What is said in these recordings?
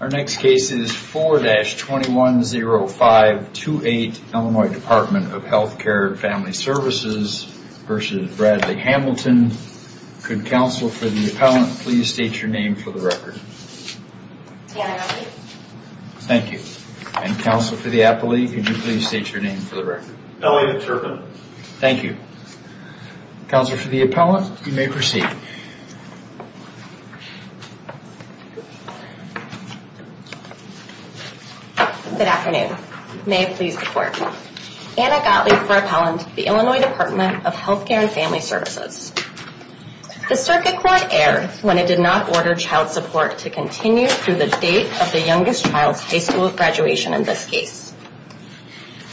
Our next case is 4-210528 Illinois Department of Healthcare and Family Services versus Bradley Hamilton. Could counsel for the appellant please state your name for the record? Tana Appley. Thank you. And counsel for the appellee, could you please state your name for the record? Elliot Turpin. Thank you. Counsel for the appellant, you may proceed. Anna Gottlieb Good afternoon. May it please the court. Anna Gottlieb for appellant, the Illinois Department of Healthcare and Family Services. The circuit court erred when it did not order child support to continue through the date of the youngest child's high school graduation in this case.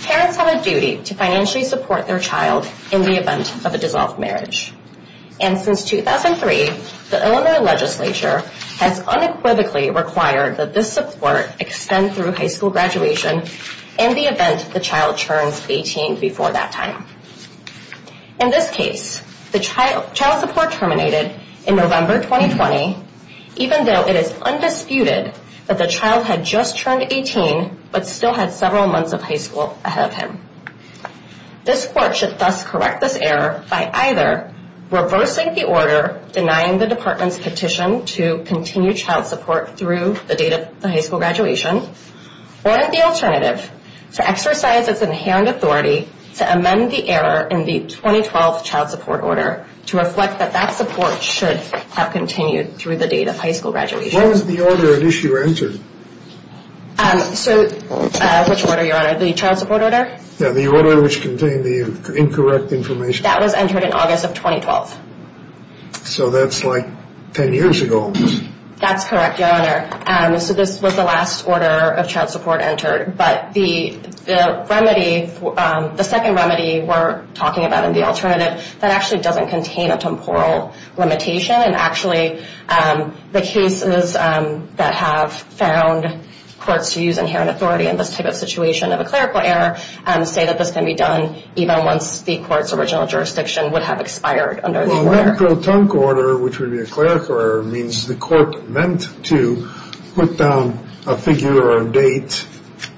Parents have a duty to financially support their child in the event of a dissolved marriage. And since 2003, the Illinois legislature has unequivocally required that this support extend through high school graduation in the event the child turns 18 before that time. In this case, the child support terminated in November 2020, even though it is undisputed that the child had just turned 18 but still had several months of high school ahead of him. This court should thus correct this error by either reversing the order denying the department's petition to continue child support through the date of the high school graduation or the alternative to exercise its inherent authority to amend the error in the 2012 child support order to reflect that that support should have continued through the date of high school graduation. What was the order of issue entered? Which order, your honor? The child support order? Yeah, the order which contained the incorrect information. That was entered in August of 2012. So that's like 10 years ago. That's correct, your honor. So this was the last order of child support entered. But the second remedy we're talking about in the alternative, that actually doesn't contain a temporal limitation. And actually, the cases that have found courts to use inherent authority in this type of situation of a clerical error say that this can be done even once the court's original jurisdiction would have expired under the order. Well, an acrotonc order, which would be a clerical error, means the court meant to put down a figure or a date.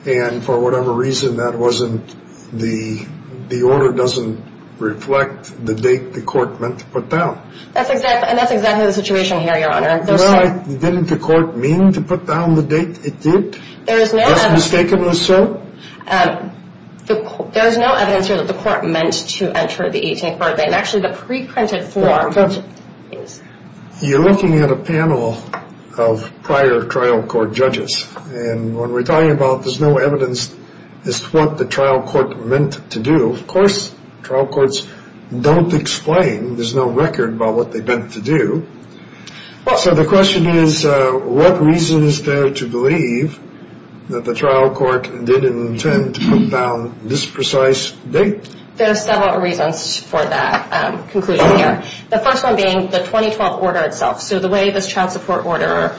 And for whatever reason, that wasn't, the order doesn't reflect the date the court meant to put down. And that's exactly the situation here, your honor. Didn't the court mean to put down the date it did? If that's mistakenly so? There's no evidence here that the court meant to enter the 18th birthday. And actually, the pre-printed form. You're looking at a panel of prior trial court judges. And when we're talking about there's no evidence as to what the trial court meant to do. Of course, trial courts don't explain. There's no record about what they meant to do. So the question is, what reason is there to believe that the trial court didn't intend to put down this precise date? There are several reasons for that conclusion here. The first one being the 2012 order itself. So the way this trial support order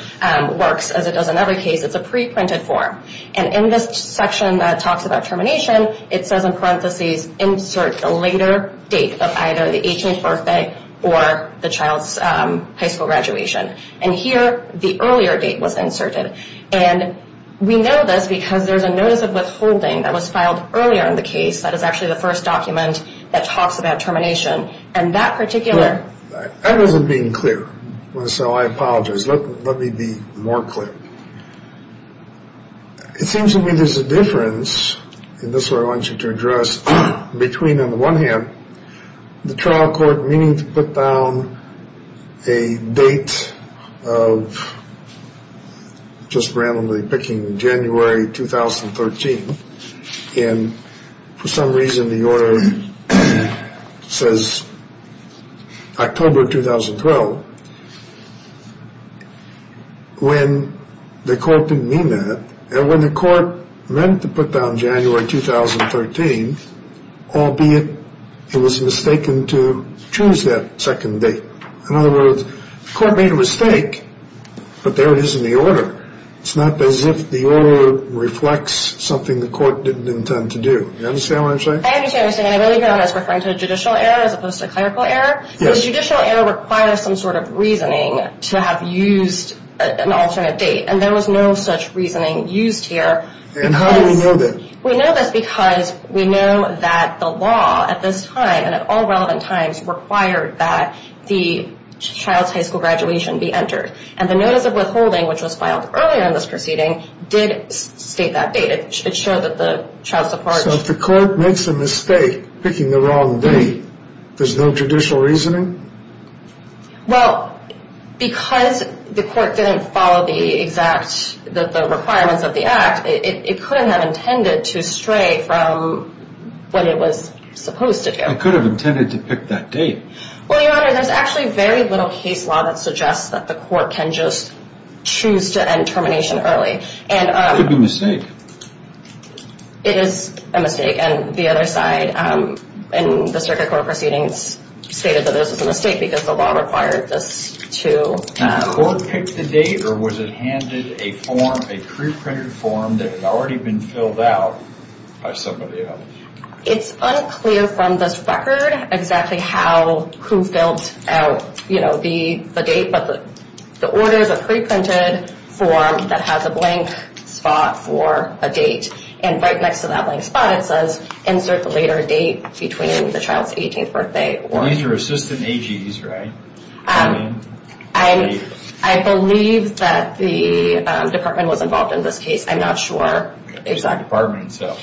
works, as it does in other cases, it's a pre-printed form. And in this section that talks about termination, it says in parentheses, insert the later date of either the 18th birthday or the child's high school graduation. And here, the earlier date was inserted. And we know this because there's a notice of withholding that was filed earlier in the case that is actually the first document that talks about termination. And that particular... That wasn't being clear. So I apologize. Let me be more clear. It seems to me there's a difference, and this is what I want you to address, between on the one hand, the trial court meaning to put down a date of just randomly picking January 2013. And for some reason, the order says October 2012, when the court didn't mean that. And when the court meant to put down January 2013, albeit it was mistaken to choose that second date. In other words, the court made a mistake, but there it is in the order. It's not as if the order reflects something the court didn't intend to do. Do you understand what I'm saying? I understand what you're saying. And I really hear that as referring to a judicial error as opposed to a clerical error. The judicial error requires some sort of reasoning to have used an alternate date. And there was no such reasoning used here. And how do we know that? We know this because we know that the law at this time, and at all relevant times, required that the child's high school graduation be entered. And the notice of withholding, which was filed earlier in this proceeding, did state that date. It showed that the child's department... So if the court makes a mistake picking the wrong date, there's no judicial reasoning? Well, because the court didn't follow the exact requirements of the act, it couldn't have intended to stray from what it was supposed to do. It could have intended to pick that date. Well, Your Honor, there's actually very little case law that suggests that the court can just choose to end termination early. It could be a mistake. It is a mistake. And the other side in the circuit court proceedings stated that this was a mistake because the law required this to happen. Did the court pick the date, or was it handed a form, a pre-printed form, that had already been filled out by somebody else? It's unclear from this record exactly who filled out the date. But the order is a pre-printed form that has a blank spot for a date. And right next to that blank spot it says, insert the later date between the child's 18th birthday or... These are assistant AGs, right? I believe that the department was involved in this case. I'm not sure. It's the department, so...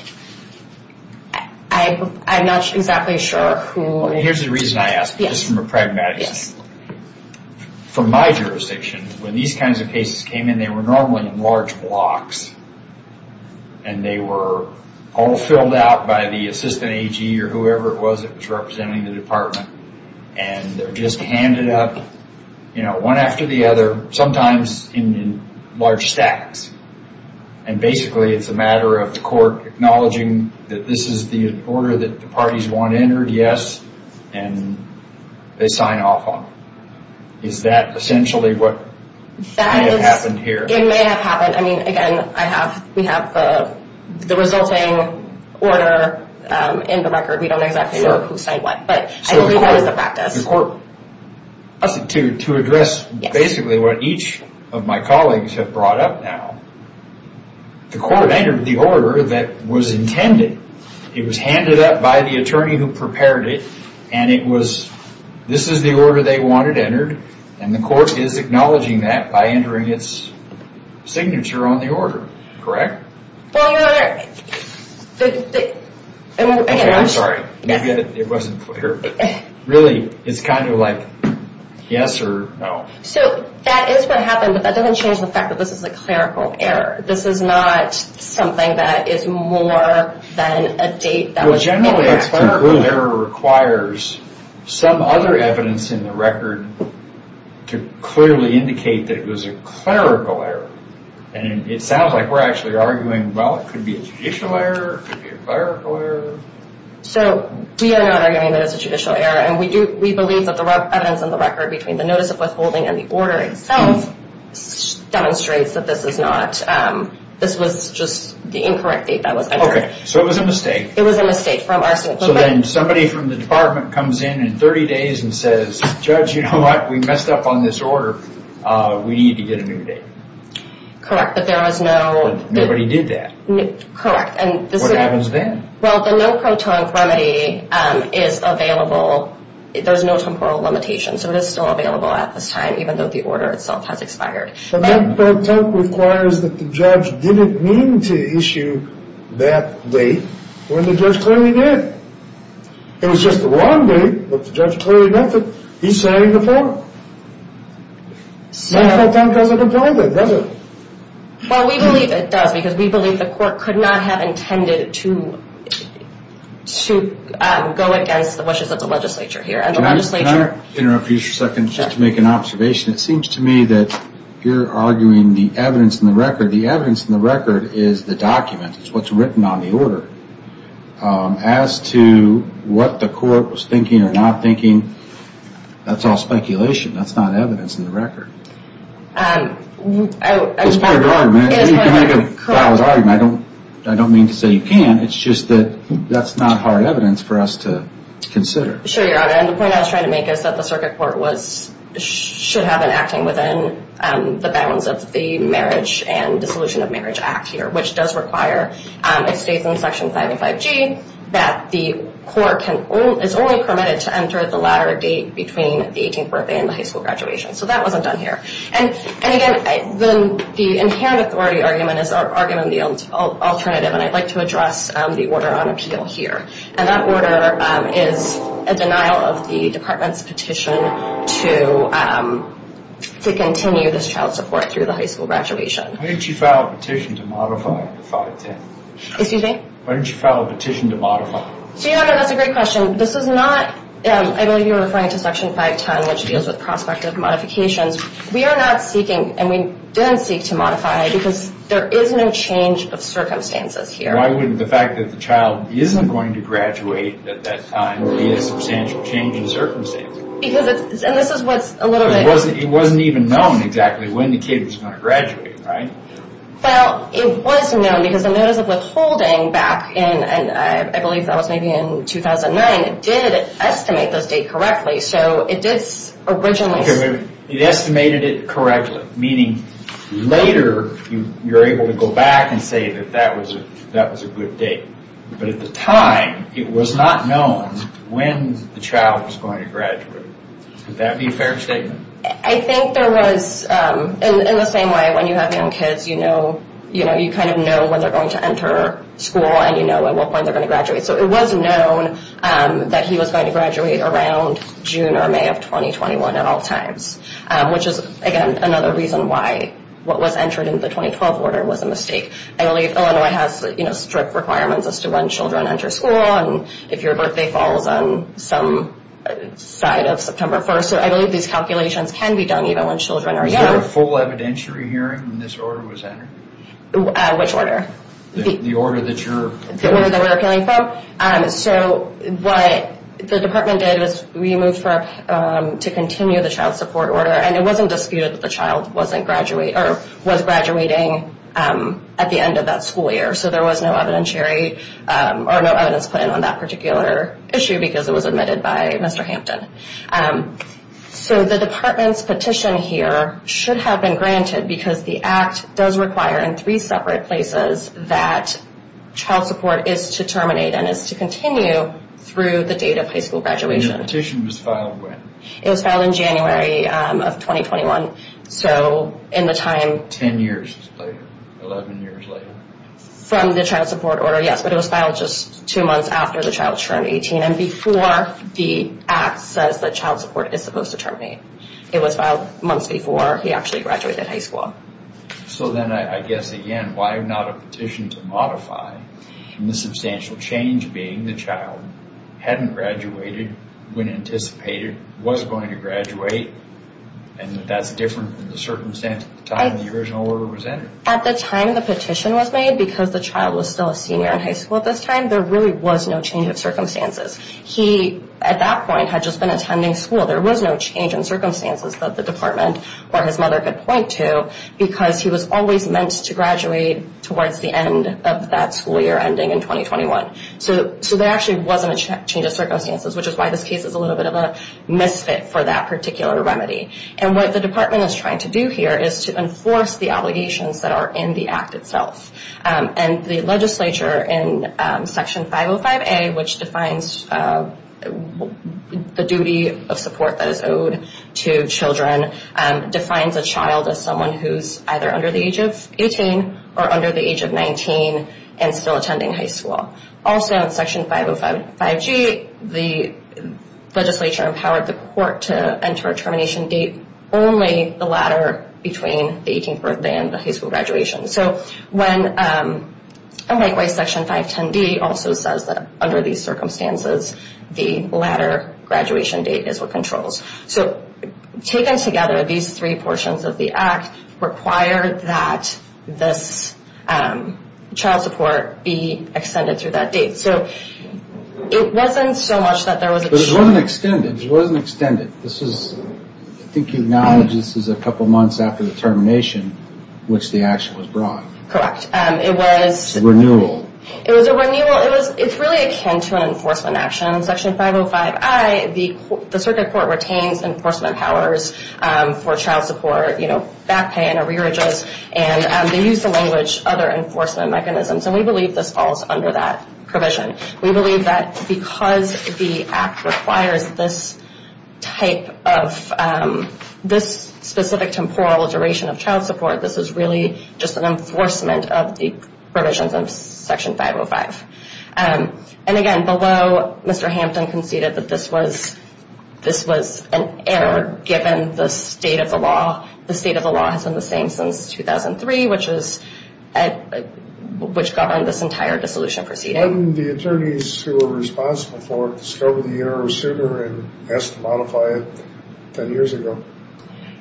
I'm not exactly sure who... Here's the reason I ask. Just from a pragmatic standpoint. From my jurisdiction, when these kinds of cases came in, they were normally in large blocks. And they were all filled out by the assistant AG or whoever it was that was representing the department. And they're just handed up, you know, one after the other, sometimes in large stacks. And basically it's a matter of the court acknowledging that this is the order that the parties want entered, yes. And they sign off on it. Is that essentially what may have happened here? It may have happened. I mean, again, we have the resulting order in the record. We don't know exactly who signed what. But I believe that was the practice. To address basically what each of my colleagues have brought up now. The court entered the order that was intended. It was handed up by the attorney who prepared it. And it was, this is the order they wanted entered. And the court is acknowledging that by entering its signature on the order. Correct? Well, Your Honor, the... I'm sorry. Maybe it wasn't clear. Really, it's kind of like yes or no. So that is what happened. But that doesn't change the fact that this is a clerical error. This is not something that is more than a date that was... Generally, a clerical error requires some other evidence in the record to clearly indicate that it was a clerical error. And it sounds like we're actually arguing, well, it could be a judicial error, it could be a clerical error. So we are not arguing that it's a judicial error. And we believe that the evidence in the record between the notice of withholding and the order itself demonstrates that this is not, this was just the incorrect date that was entered. Okay. So it was a mistake. It was a mistake from our standpoint. So then somebody from the department comes in in 30 days and says, Judge, you know what? We messed up on this order. We need to get a new date. Correct. But there was no... Nobody did that. Correct. What happens then? Well, the no-proton remedy is available. There's no temporal limitation, so it is still available at this time, even though the order itself has expired. The no-proton requires that the judge didn't mean to issue that date when the judge clearly did. It was just the wrong date, but the judge clearly meant it. He's signing the form. No-proton doesn't apply that, does it? Well, we believe it does, because we believe the court could not have intended to go against the wishes of the legislature here. And the legislature... Can I interrupt you for a second just to make an observation? It seems to me that you're arguing the evidence in the record. The evidence in the record is the document. It's what's written on the order. As to what the court was thinking or not thinking, that's all speculation. That's not evidence in the record. It's part of the argument. You can make a valid argument. I don't mean to say you can. It's just that that's not hard evidence for us to consider. Sure, Your Honor. The point I was trying to make is that the circuit court should have been acting within the bounds of the Marriage and Dissolution of Marriage Act here, which does require, it states in Section 505G, that the court is only permitted to enter the latter date between the 18th birthday and the high school graduation. So that wasn't done here. And, again, the inherent authority argument is our argument on the alternative, and I'd like to address the order on appeal here. And that order is a denial of the Department's petition to continue this child support through the high school graduation. Why didn't you file a petition to modify 510? Excuse me? Why didn't you file a petition to modify? So, Your Honor, that's a great question. This is not, I believe you're referring to Section 510, which deals with prospective modifications. We are not seeking, and we didn't seek to modify, because there is no change of circumstances here. Why wouldn't the fact that the child isn't going to graduate at that time be a substantial change in circumstances? Because it's, and this is what's a little bit... It wasn't even known exactly when the kid was going to graduate, right? Well, it was known, because the Notice of Withholding back in, I believe that was maybe in 2009, did estimate this date correctly. So it did originally... It estimated it correctly, meaning later you're able to go back and say that that was a good date. But at the time, it was not known when the child was going to graduate. Would that be a fair statement? I think there was... In the same way, when you have young kids, you know, you kind of know when they're going to enter school, and you know at what point they're going to graduate. So it was known that he was going to graduate around June or May of 2021 at all times, which is, again, another reason why what was entered in the 2012 order was a mistake. I believe Illinois has strict requirements as to when children enter school and if your birthday falls on some side of September 1st. So I believe these calculations can be done even when children are young. Was there a full evidentiary hearing when this order was entered? Which order? The order that you're... The order that we're appealing from? No. So what the department did was we moved to continue the child support order, and it wasn't disputed that the child was graduating at the end of that school year. So there was no evidentiary or no evidence put in on that particular issue because it was admitted by Mr. Hampton. So the department's petition here should have been granted because the act does require in three separate places that child support is to terminate and is to continue through the date of high school graduation. And the petition was filed when? It was filed in January of 2021, so in the time... Ten years later, 11 years later. From the child support order, yes, but it was filed just two months after the child turned 18 and before the act says that child support is supposed to terminate. It was filed months before he actually graduated high school. So then I guess, again, why not a petition to modify from the substantial change being the child hadn't graduated when anticipated, was going to graduate, and that that's different from the circumstance at the time the original order was entered? At the time the petition was made, because the child was still a senior in high school at this time, there really was no change of circumstances. He, at that point, had just been attending school. There was no change in circumstances that the department or his mother could point to because he was always meant to graduate towards the end of that school year ending in 2021. So there actually wasn't a change of circumstances, which is why this case is a little bit of a misfit for that particular remedy. And what the department is trying to do here is to enforce the obligations that are in the act itself. And the legislature in Section 505A, which defines the duty of support that is owed to children, defines a child as someone who's either under the age of 18 or under the age of 19 and still attending high school. Also in Section 505G, the legislature empowered the court to enter a termination date only the latter between the 18th birthday and the high school graduation. So when, and likewise, Section 510D also says that under these circumstances, the latter graduation date is what controls. So taken together, these three portions of the act require that this child support be extended through that date. So it wasn't so much that there was a change. But it wasn't extended. It wasn't extended. I think you acknowledge this is a couple months after the termination, which the action was brought. Correct. It was a renewal. It was a renewal. It's really akin to an enforcement action. In Section 505I, the circuit court retains enforcement powers for child support, you know, back pay and arrearages. And they use the language, other enforcement mechanisms. And we believe this falls under that provision. We believe that because the act requires this type of, this specific temporal duration of child support, this is really just an enforcement of the provisions of Section 505. And, again, below, Mr. Hampton conceded that this was an error given the state of the law. The state of the law has been the same since 2003, which governed this entire dissolution proceeding. Why didn't the attorneys who were responsible for it discover the error sooner and ask to modify it 10 years ago?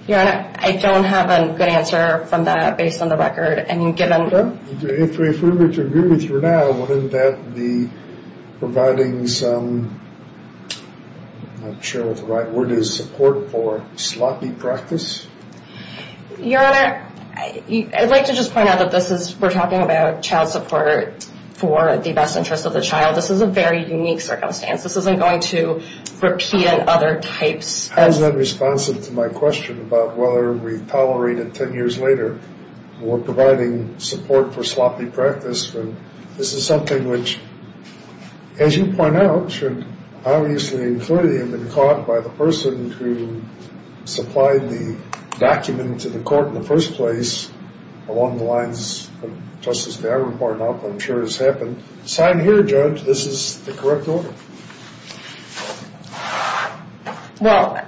Your Honor, I don't have a good answer from that based on the record. If we were to agree with you now, wouldn't that be providing some, I'm not sure what the right word is, support for sloppy practice? Your Honor, I'd like to just point out that this is, we're talking about child support for the best interest of the child. This is a very unique circumstance. This isn't going to repeat in other types. How is that responsive to my question about whether we tolerate it 10 years later or providing support for sloppy practice when this is something which, as you point out, obviously, including being caught by the person who supplied the document to the court in the first place, along the lines of Justice D'Agran part of what I'm sure has happened. Sign here, Judge. This is the correct order. Well,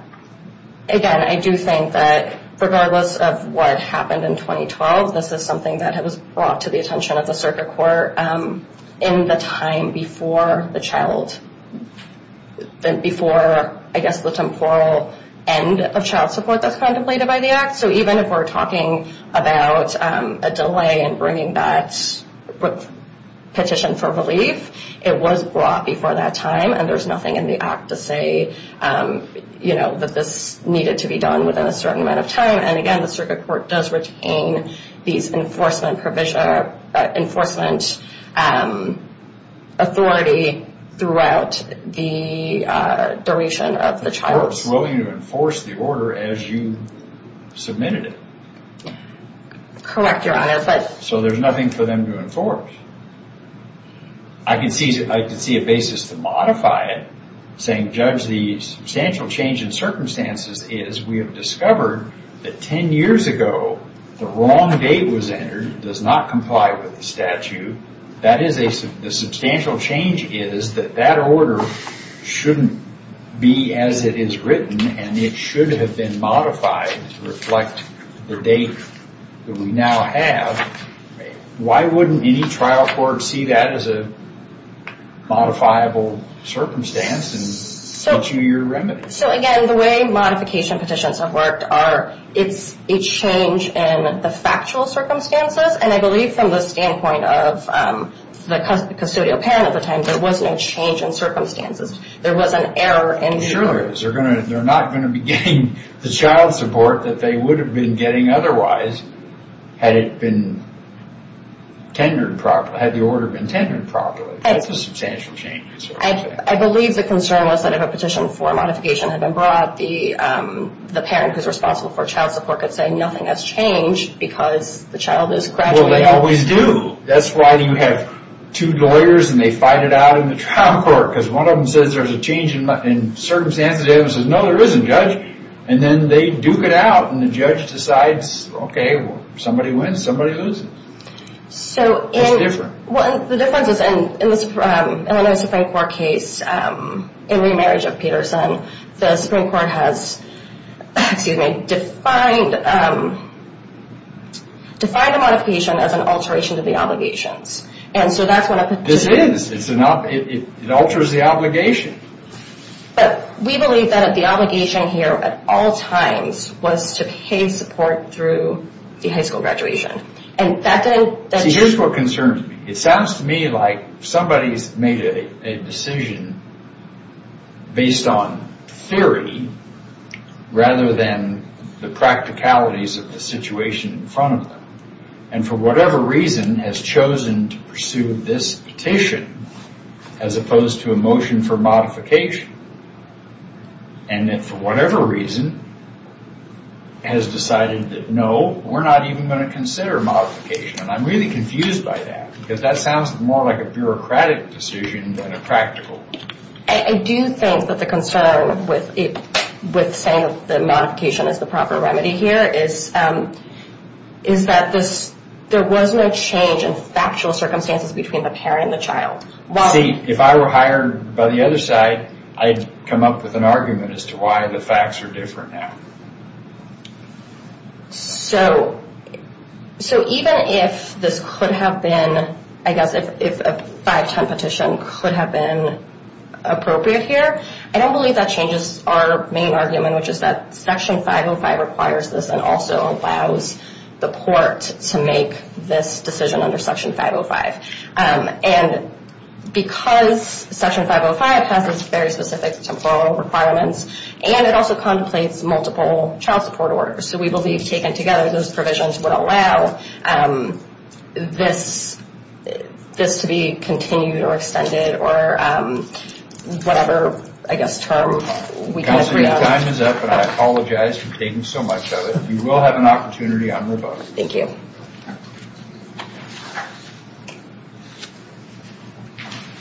again, I do think that regardless of what happened in 2012, this is something that was brought to the attention of the circuit court in the time before the child, before, I guess, the temporal end of child support that's contemplated by the Act. So even if we're talking about a delay in bringing that petition for relief, it was brought before that time, and there's nothing in the Act to say that this needed to be done within a certain amount of time. And again, the circuit court does retain these enforcement authority throughout the duration of the child. The court's willing to enforce the order as you submitted it. Correct, Your Honor. So there's nothing for them to enforce. I can see a basis to modify it, saying, Judge, because the substantial change in circumstances is we have discovered that 10 years ago, the wrong date was entered, does not comply with the statute. The substantial change is that that order shouldn't be as it is written, and it should have been modified to reflect the date that we now have. Why wouldn't any trial court see that as a modifiable circumstance and issue your remedy? So again, the way modification petitions have worked are it's a change in the factual circumstances, and I believe from the standpoint of the custodial parent at the time, there was no change in circumstances. There was an error in the order. There sure is. They're not going to be getting the child support that they would have been getting otherwise had it been tenured properly, had the order been tenured properly. That's a substantial change. I believe the concern was that if a petition for modification had been brought, the parent who's responsible for child support could say nothing has changed because the child is gradually... Well, they always do. That's why you have two lawyers, and they fight it out in the trial court because one of them says there's a change in circumstances. The other one says, no, there isn't, Judge. And then they duke it out, and the judge decides, okay, somebody wins, somebody loses. It's different. The difference is in the Illinois Supreme Court case in remarriage of Peterson, the Supreme Court has defined a modification as an alteration to the obligations. This is. It alters the obligation. But we believe that the obligation here at all times was to pay support through the high school graduation, and that didn't... See, here's what concerns me. It sounds to me like somebody's made a decision based on theory rather than the practicalities of the situation in front of them, and for whatever reason has chosen to pursue this petition as opposed to a motion for modification, and then for whatever reason has decided that, no, we're not even going to consider modification. And I'm really confused by that because that sounds more like a bureaucratic decision than a practical one. I do think that the concern with saying that modification is the proper remedy here is that there was no change in factual circumstances between the parent and the child. See, if I were hired by the other side, I'd come up with an argument as to why the facts are different now. So even if this could have been, I guess, if a 510 petition could have been appropriate here, I don't believe that changes our main argument, which is that Section 505 requires this and also allows the court to make this decision under Section 505. And because Section 505 has its very specific temporal requirements and it also contemplates multiple child support orders, so we believe taken together those provisions would allow this to be continued or extended Counselor, your time is up, and I apologize for taking so much of it. You will have an opportunity on your vote. Thank you.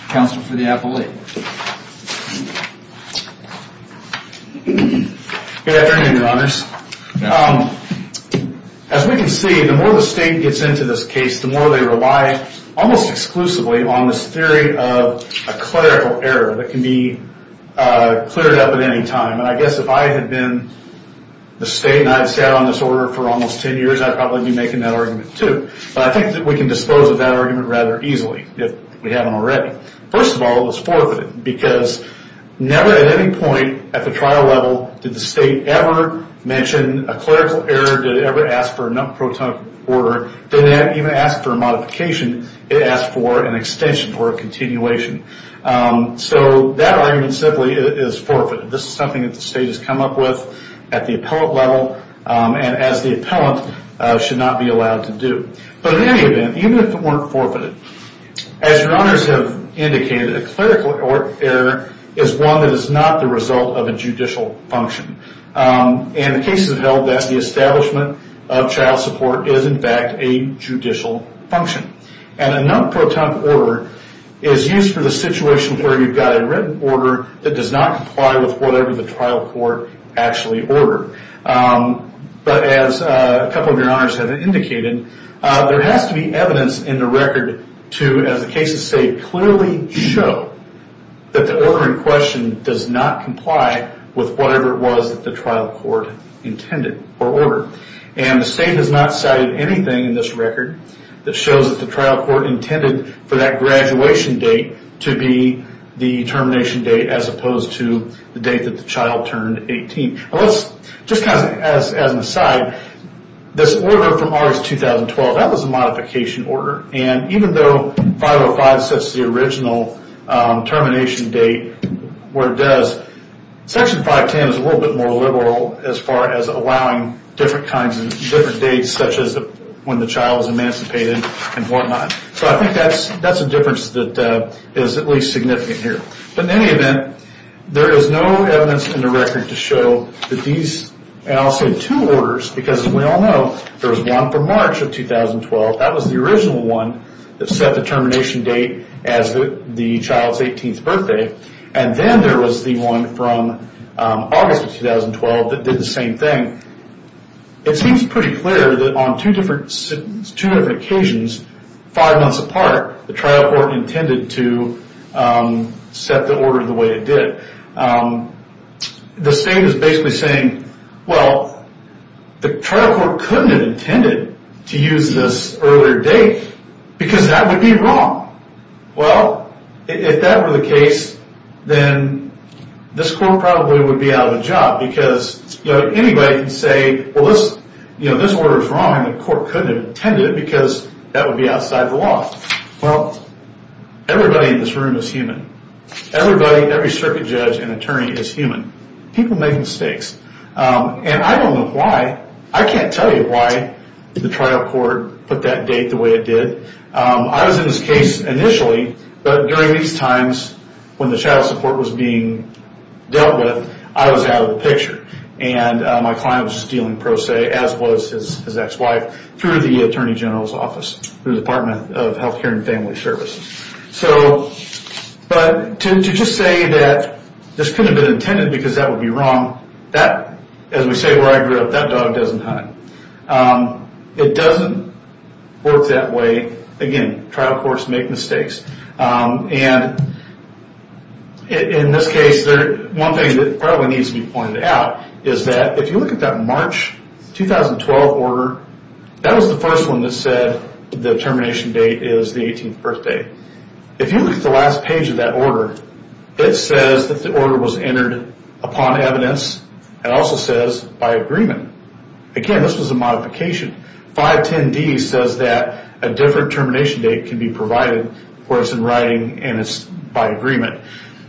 Counsel for the appellate. Good afternoon, Your Honors. As we can see, the more the state gets into this case, the more they rely almost exclusively on this theory of a clerical error that can be cleared up at any time. And I guess if I had been the state and I had sat on this order for almost 10 years, I'd probably be making that argument too. But I think that we can dispose of that argument rather easily if we haven't already. First of all, it's forfeited because never at any point at the trial level did the state ever mention a clerical error, did it ever ask for a non-protonic order, did it even ask for a modification. It asked for an extension or a continuation. So that argument simply is forfeited. This is something that the state has come up with at the appellate level and as the appellant should not be allowed to do. But in any event, even if it weren't forfeited, as Your Honors have indicated, a clerical error is one that is not the result of a judicial function. And the cases have held that the establishment of child support is in fact a judicial function. And a non-protonic order is used for the situation where you've got a written order that does not comply with whatever the trial court actually ordered. But as a couple of Your Honors have indicated, there has to be evidence in the record to, as the cases say, clearly show that the order in question does not comply with whatever it was that the trial court intended or ordered. And the state has not cited anything in this record that shows that the trial court intended for that graduation date to be the termination date as opposed to the date that the child turned 18. Just as an aside, this order from August 2012, that was a modification order. And even though 505 sets the original termination date where it does, Section 510 is a little bit more liberal as far as allowing different dates such as when the child was emancipated and whatnot. So I think that's a difference that is at least significant here. But in any event, there is no evidence in the record to show that these, and I'll say two orders, because as we all know, there was one for March of 2012. That was the original one that set the termination date as the child's 18th birthday. And then there was the one from August of 2012 that did the same thing. It seems pretty clear that on two different occasions, five months apart, the trial court intended to set the order the way it did. The state is basically saying, well, the trial court couldn't have intended to use this earlier date because that would be wrong. Well, if that were the case, then this court probably would be out of a job because anybody can say, well, this order is wrong and the court couldn't have intended it because that would be outside the law. Well, everybody in this room is human. Everybody, every circuit judge and attorney is human. People make mistakes, and I don't know why. I can't tell you why the trial court put that date the way it did. I was in this case initially, but during these times, when the child support was being dealt with, I was out of the picture. And my client was just dealing pro se, as was his ex-wife, through the attorney general's office, through the Department of Health Care and Family Services. But to just say that this couldn't have been intended because that would be wrong, that, as we say where I grew up, that dog doesn't hunt. It doesn't work that way. Again, trial courts make mistakes. And in this case, one thing that probably needs to be pointed out is that if you look at that March 2012 order, that was the first one that said the termination date is the 18th birthday. If you look at the last page of that order, it says that the order was entered upon evidence. It also says by agreement. Again, this was a modification. 510D says that a different termination date can be provided where it's in writing and it's by agreement.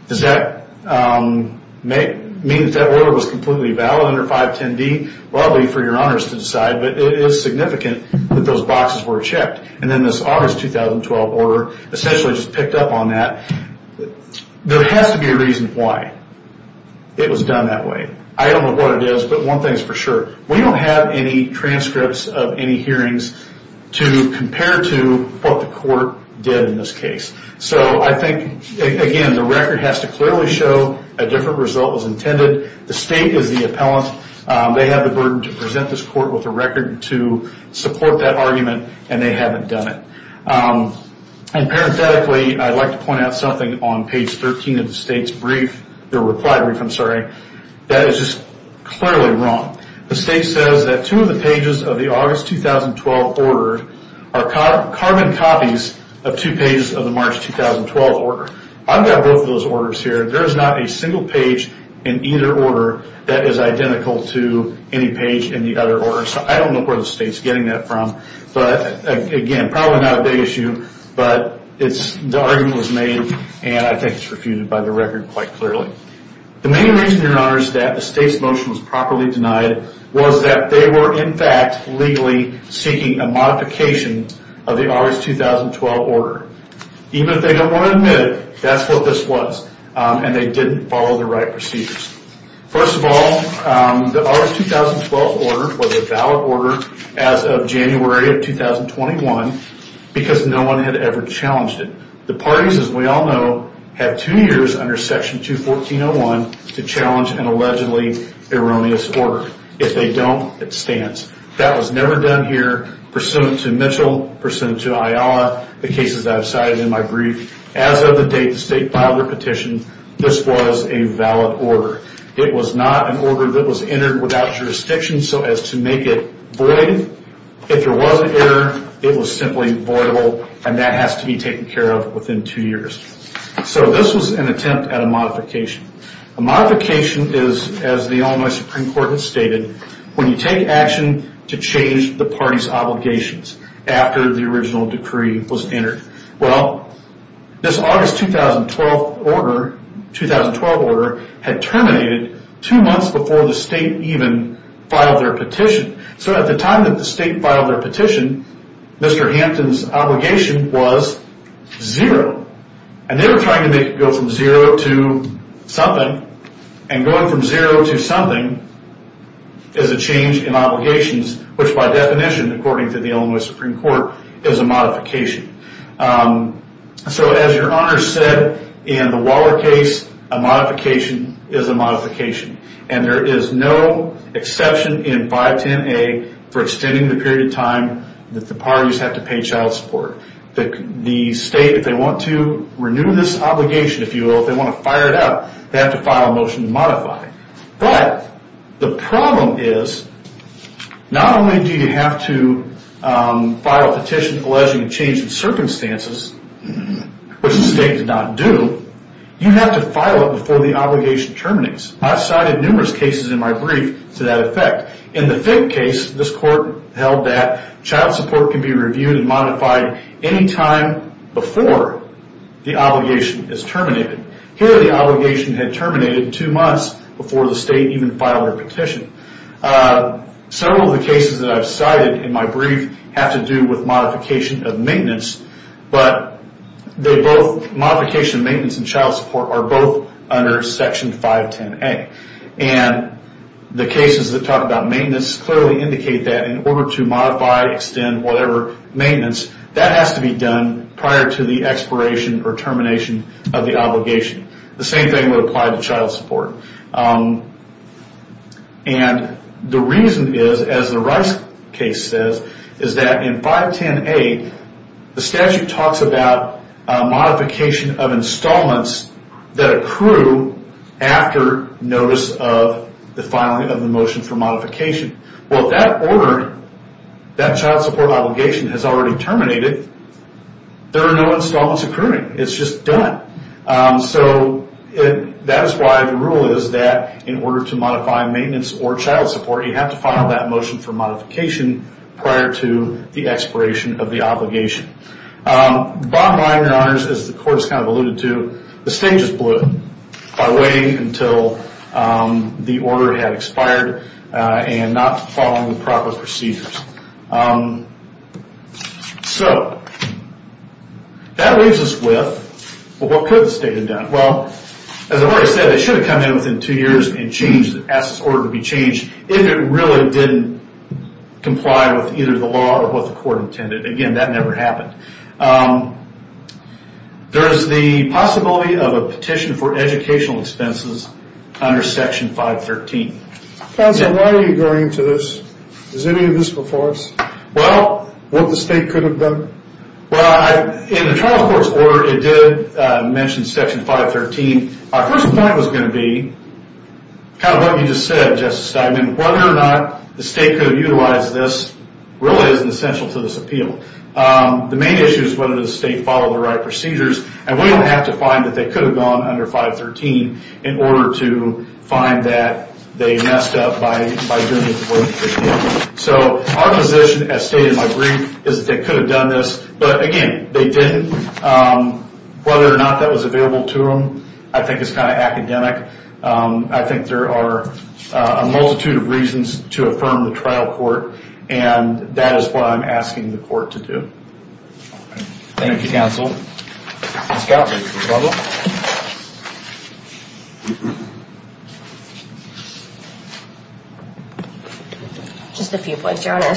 Does that mean that that order was completely valid under 510D? Well, I'll leave it for your honors to decide, but it is significant that those boxes were checked. And then this August 2012 order essentially just picked up on that. There has to be a reason why it was done that way. I don't know what it is, but one thing is for sure. We don't have any transcripts of any hearings to compare to what the court did in this case. So I think, again, the record has to clearly show a different result was intended. The state is the appellant. They have the burden to present this court with a record to support that argument, and they haven't done it. And parenthetically, I'd like to point out something on page 13 of the state's brief. The reply brief, I'm sorry. That is just clearly wrong. The state says that two of the pages of the August 2012 order are carbon copies of two pages of the March 2012 order. I've got both of those orders here. There is not a single page in either order that is identical to any page in the other order. So I don't know where the state is getting that from. But, again, probably not a big issue. But the argument was made, and I think it's refuted by the record quite clearly. The main reason, Your Honors, that the state's motion was properly denied was that they were, in fact, legally seeking a modification of the August 2012 order. Even if they don't want to admit it, that's what this was, and they didn't follow the right procedures. First of all, the August 2012 order was a valid order as of January of 2021 because no one had ever challenged it. The parties, as we all know, have two years under Section 214.01 to challenge an allegedly erroneous order. If they don't, it stands. That was never done here, pursuant to Mitchell, pursuant to Ayala, the cases I've cited in my brief. As of the date the state filed the petition, this was a valid order. It was not an order that was entered without jurisdiction so as to make it void. If there was an error, it was simply voidable, and that has to be taken care of within two years. So this was an attempt at a modification. A modification is, as the Illinois Supreme Court has stated, when you take action to change the party's obligations after the original decree was entered. Well, this August 2012 order had terminated two months before the state even filed their petition. So at the time that the state filed their petition, Mr. Hampton's obligation was zero. And they were trying to make it go from zero to something, which by definition, according to the Illinois Supreme Court, is a modification. So as your Honor said, in the Waller case, a modification is a modification. And there is no exception in 510A for extending the period of time that the parties have to pay child support. The state, if they want to renew this obligation, if you will, if they want to fire it out, they have to file a motion to modify it. But the problem is, not only do you have to file a petition alleging a change in circumstances, which the state did not do, you have to file it before the obligation terminates. I've cited numerous cases in my brief to that effect. In the Fick case, this court held that child support can be reviewed and modified any time before the obligation is terminated. Here, the obligation had terminated two months before the state even filed their petition. Several of the cases that I've cited in my brief have to do with modification of maintenance, but modification of maintenance and child support are both under Section 510A. And the cases that talk about maintenance clearly indicate that in order to modify, extend, whatever, maintenance, that has to be done prior to the expiration or termination of the obligation. The same thing would apply to child support. And the reason is, as the Rice case says, is that in 510A, the statute talks about modification of installments that accrue after notice of the filing of the motion for modification. Well, if that order, that child support obligation, has already terminated, there are no installments accruing. It's just done. So that is why the rule is that in order to modify maintenance or child support, you have to file that motion for modification prior to the expiration of the obligation. Bottom line, Your Honors, as the court has kind of alluded to, the state just blew it by waiting until the order had expired and not following the proper procedures. So, that leaves us with, well, what could the state have done? Well, as I've already said, it should have come in within two years and changed, asked this order to be changed, if it really didn't comply with either the law or what the court intended. Again, that never happened. There is the possibility of a petition for educational expenses under Section 513. Counsel, why are you going into this? Is any of this before us? Well... What the state could have done? Well, in the child support order, it did mention Section 513. Our first point was going to be, kind of what you just said, Justice Steinman, whether or not the state could have utilized this really isn't essential to this appeal. The main issue is whether the state followed the right procedures, and we don't have to find that they could have gone under 513 in order to find that they messed up by doing what they did. So, our position, as stated in my brief, is that they could have done this, but again, they didn't. Whether or not that was available to them, I think is kind of academic. I think there are a multitude of reasons to affirm the trial court, and that is what I'm asking the court to do. Thank you, counsel. Ms. Gottlieb, did you have a problem? Just a few points, Your Honor.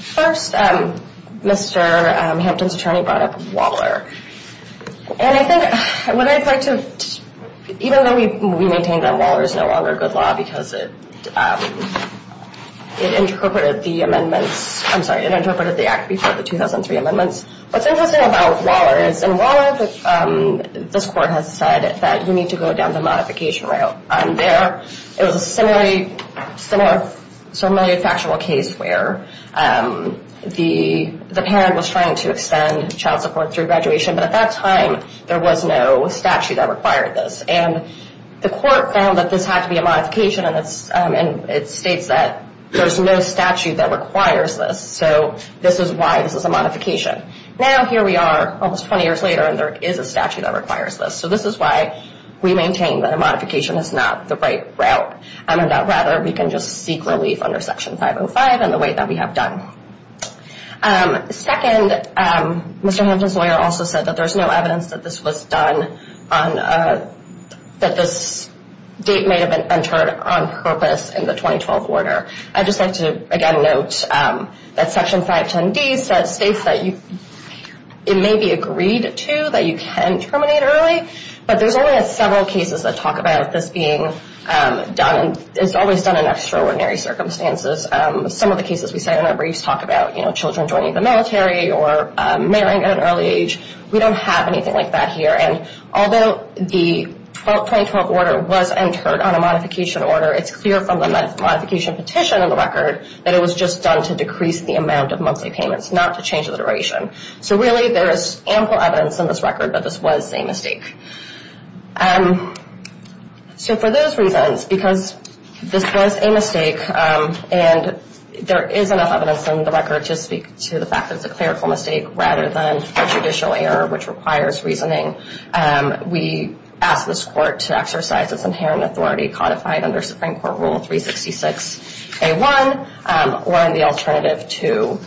First, Mr. Hampton's attorney brought up Waller. And I think, what I'd like to, even though we maintain that Waller is no longer a good law because it interpreted the amendments, I'm sorry, it interpreted the act before the 2003 amendments. What's interesting about Waller is, in Waller, this court has said that you need to go down the modification route. There, it was a similar factual case where the parent was trying to extend child support through graduation, but at that time, there was no statute that required this. And the court found that this had to be a modification, and it states that there's no statute that requires this. So this is why this is a modification. Now, here we are almost 20 years later, and there is a statute that requires this. So this is why we maintain that a modification is not the right route, and that rather we can just seek relief under Section 505 in the way that we have done. Second, Mr. Hampton's lawyer also said that there's no evidence that this was done, that this date may have been entered on purpose in the 2012 order. I'd just like to, again, note that Section 510D states that it may be agreed to that you can terminate early, but there's only several cases that talk about this being done, and it's always done in extraordinary circumstances. Some of the cases we cite in our briefs talk about children joining the military or marrying at an early age. We don't have anything like that here, and although the 2012 order was entered on a modification order, it's clear from the modification petition in the record that it was just done to decrease the amount of monthly payments, not to change the duration. So really, there is ample evidence in this record that this was a mistake. So for those reasons, because this was a mistake, and there is enough evidence in the record to speak to the fact that it's a clerical mistake rather than a judicial error which requires reasoning, we ask this Court to exercise its inherent authority codified under Supreme Court Rule 366A.1 or in the alternative to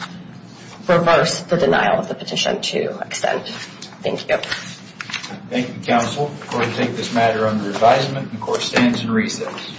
reverse the denial of the petition to an extent. Thank you. Thank you, Counsel. I'm going to take this matter under advisement. The Court stands in recess.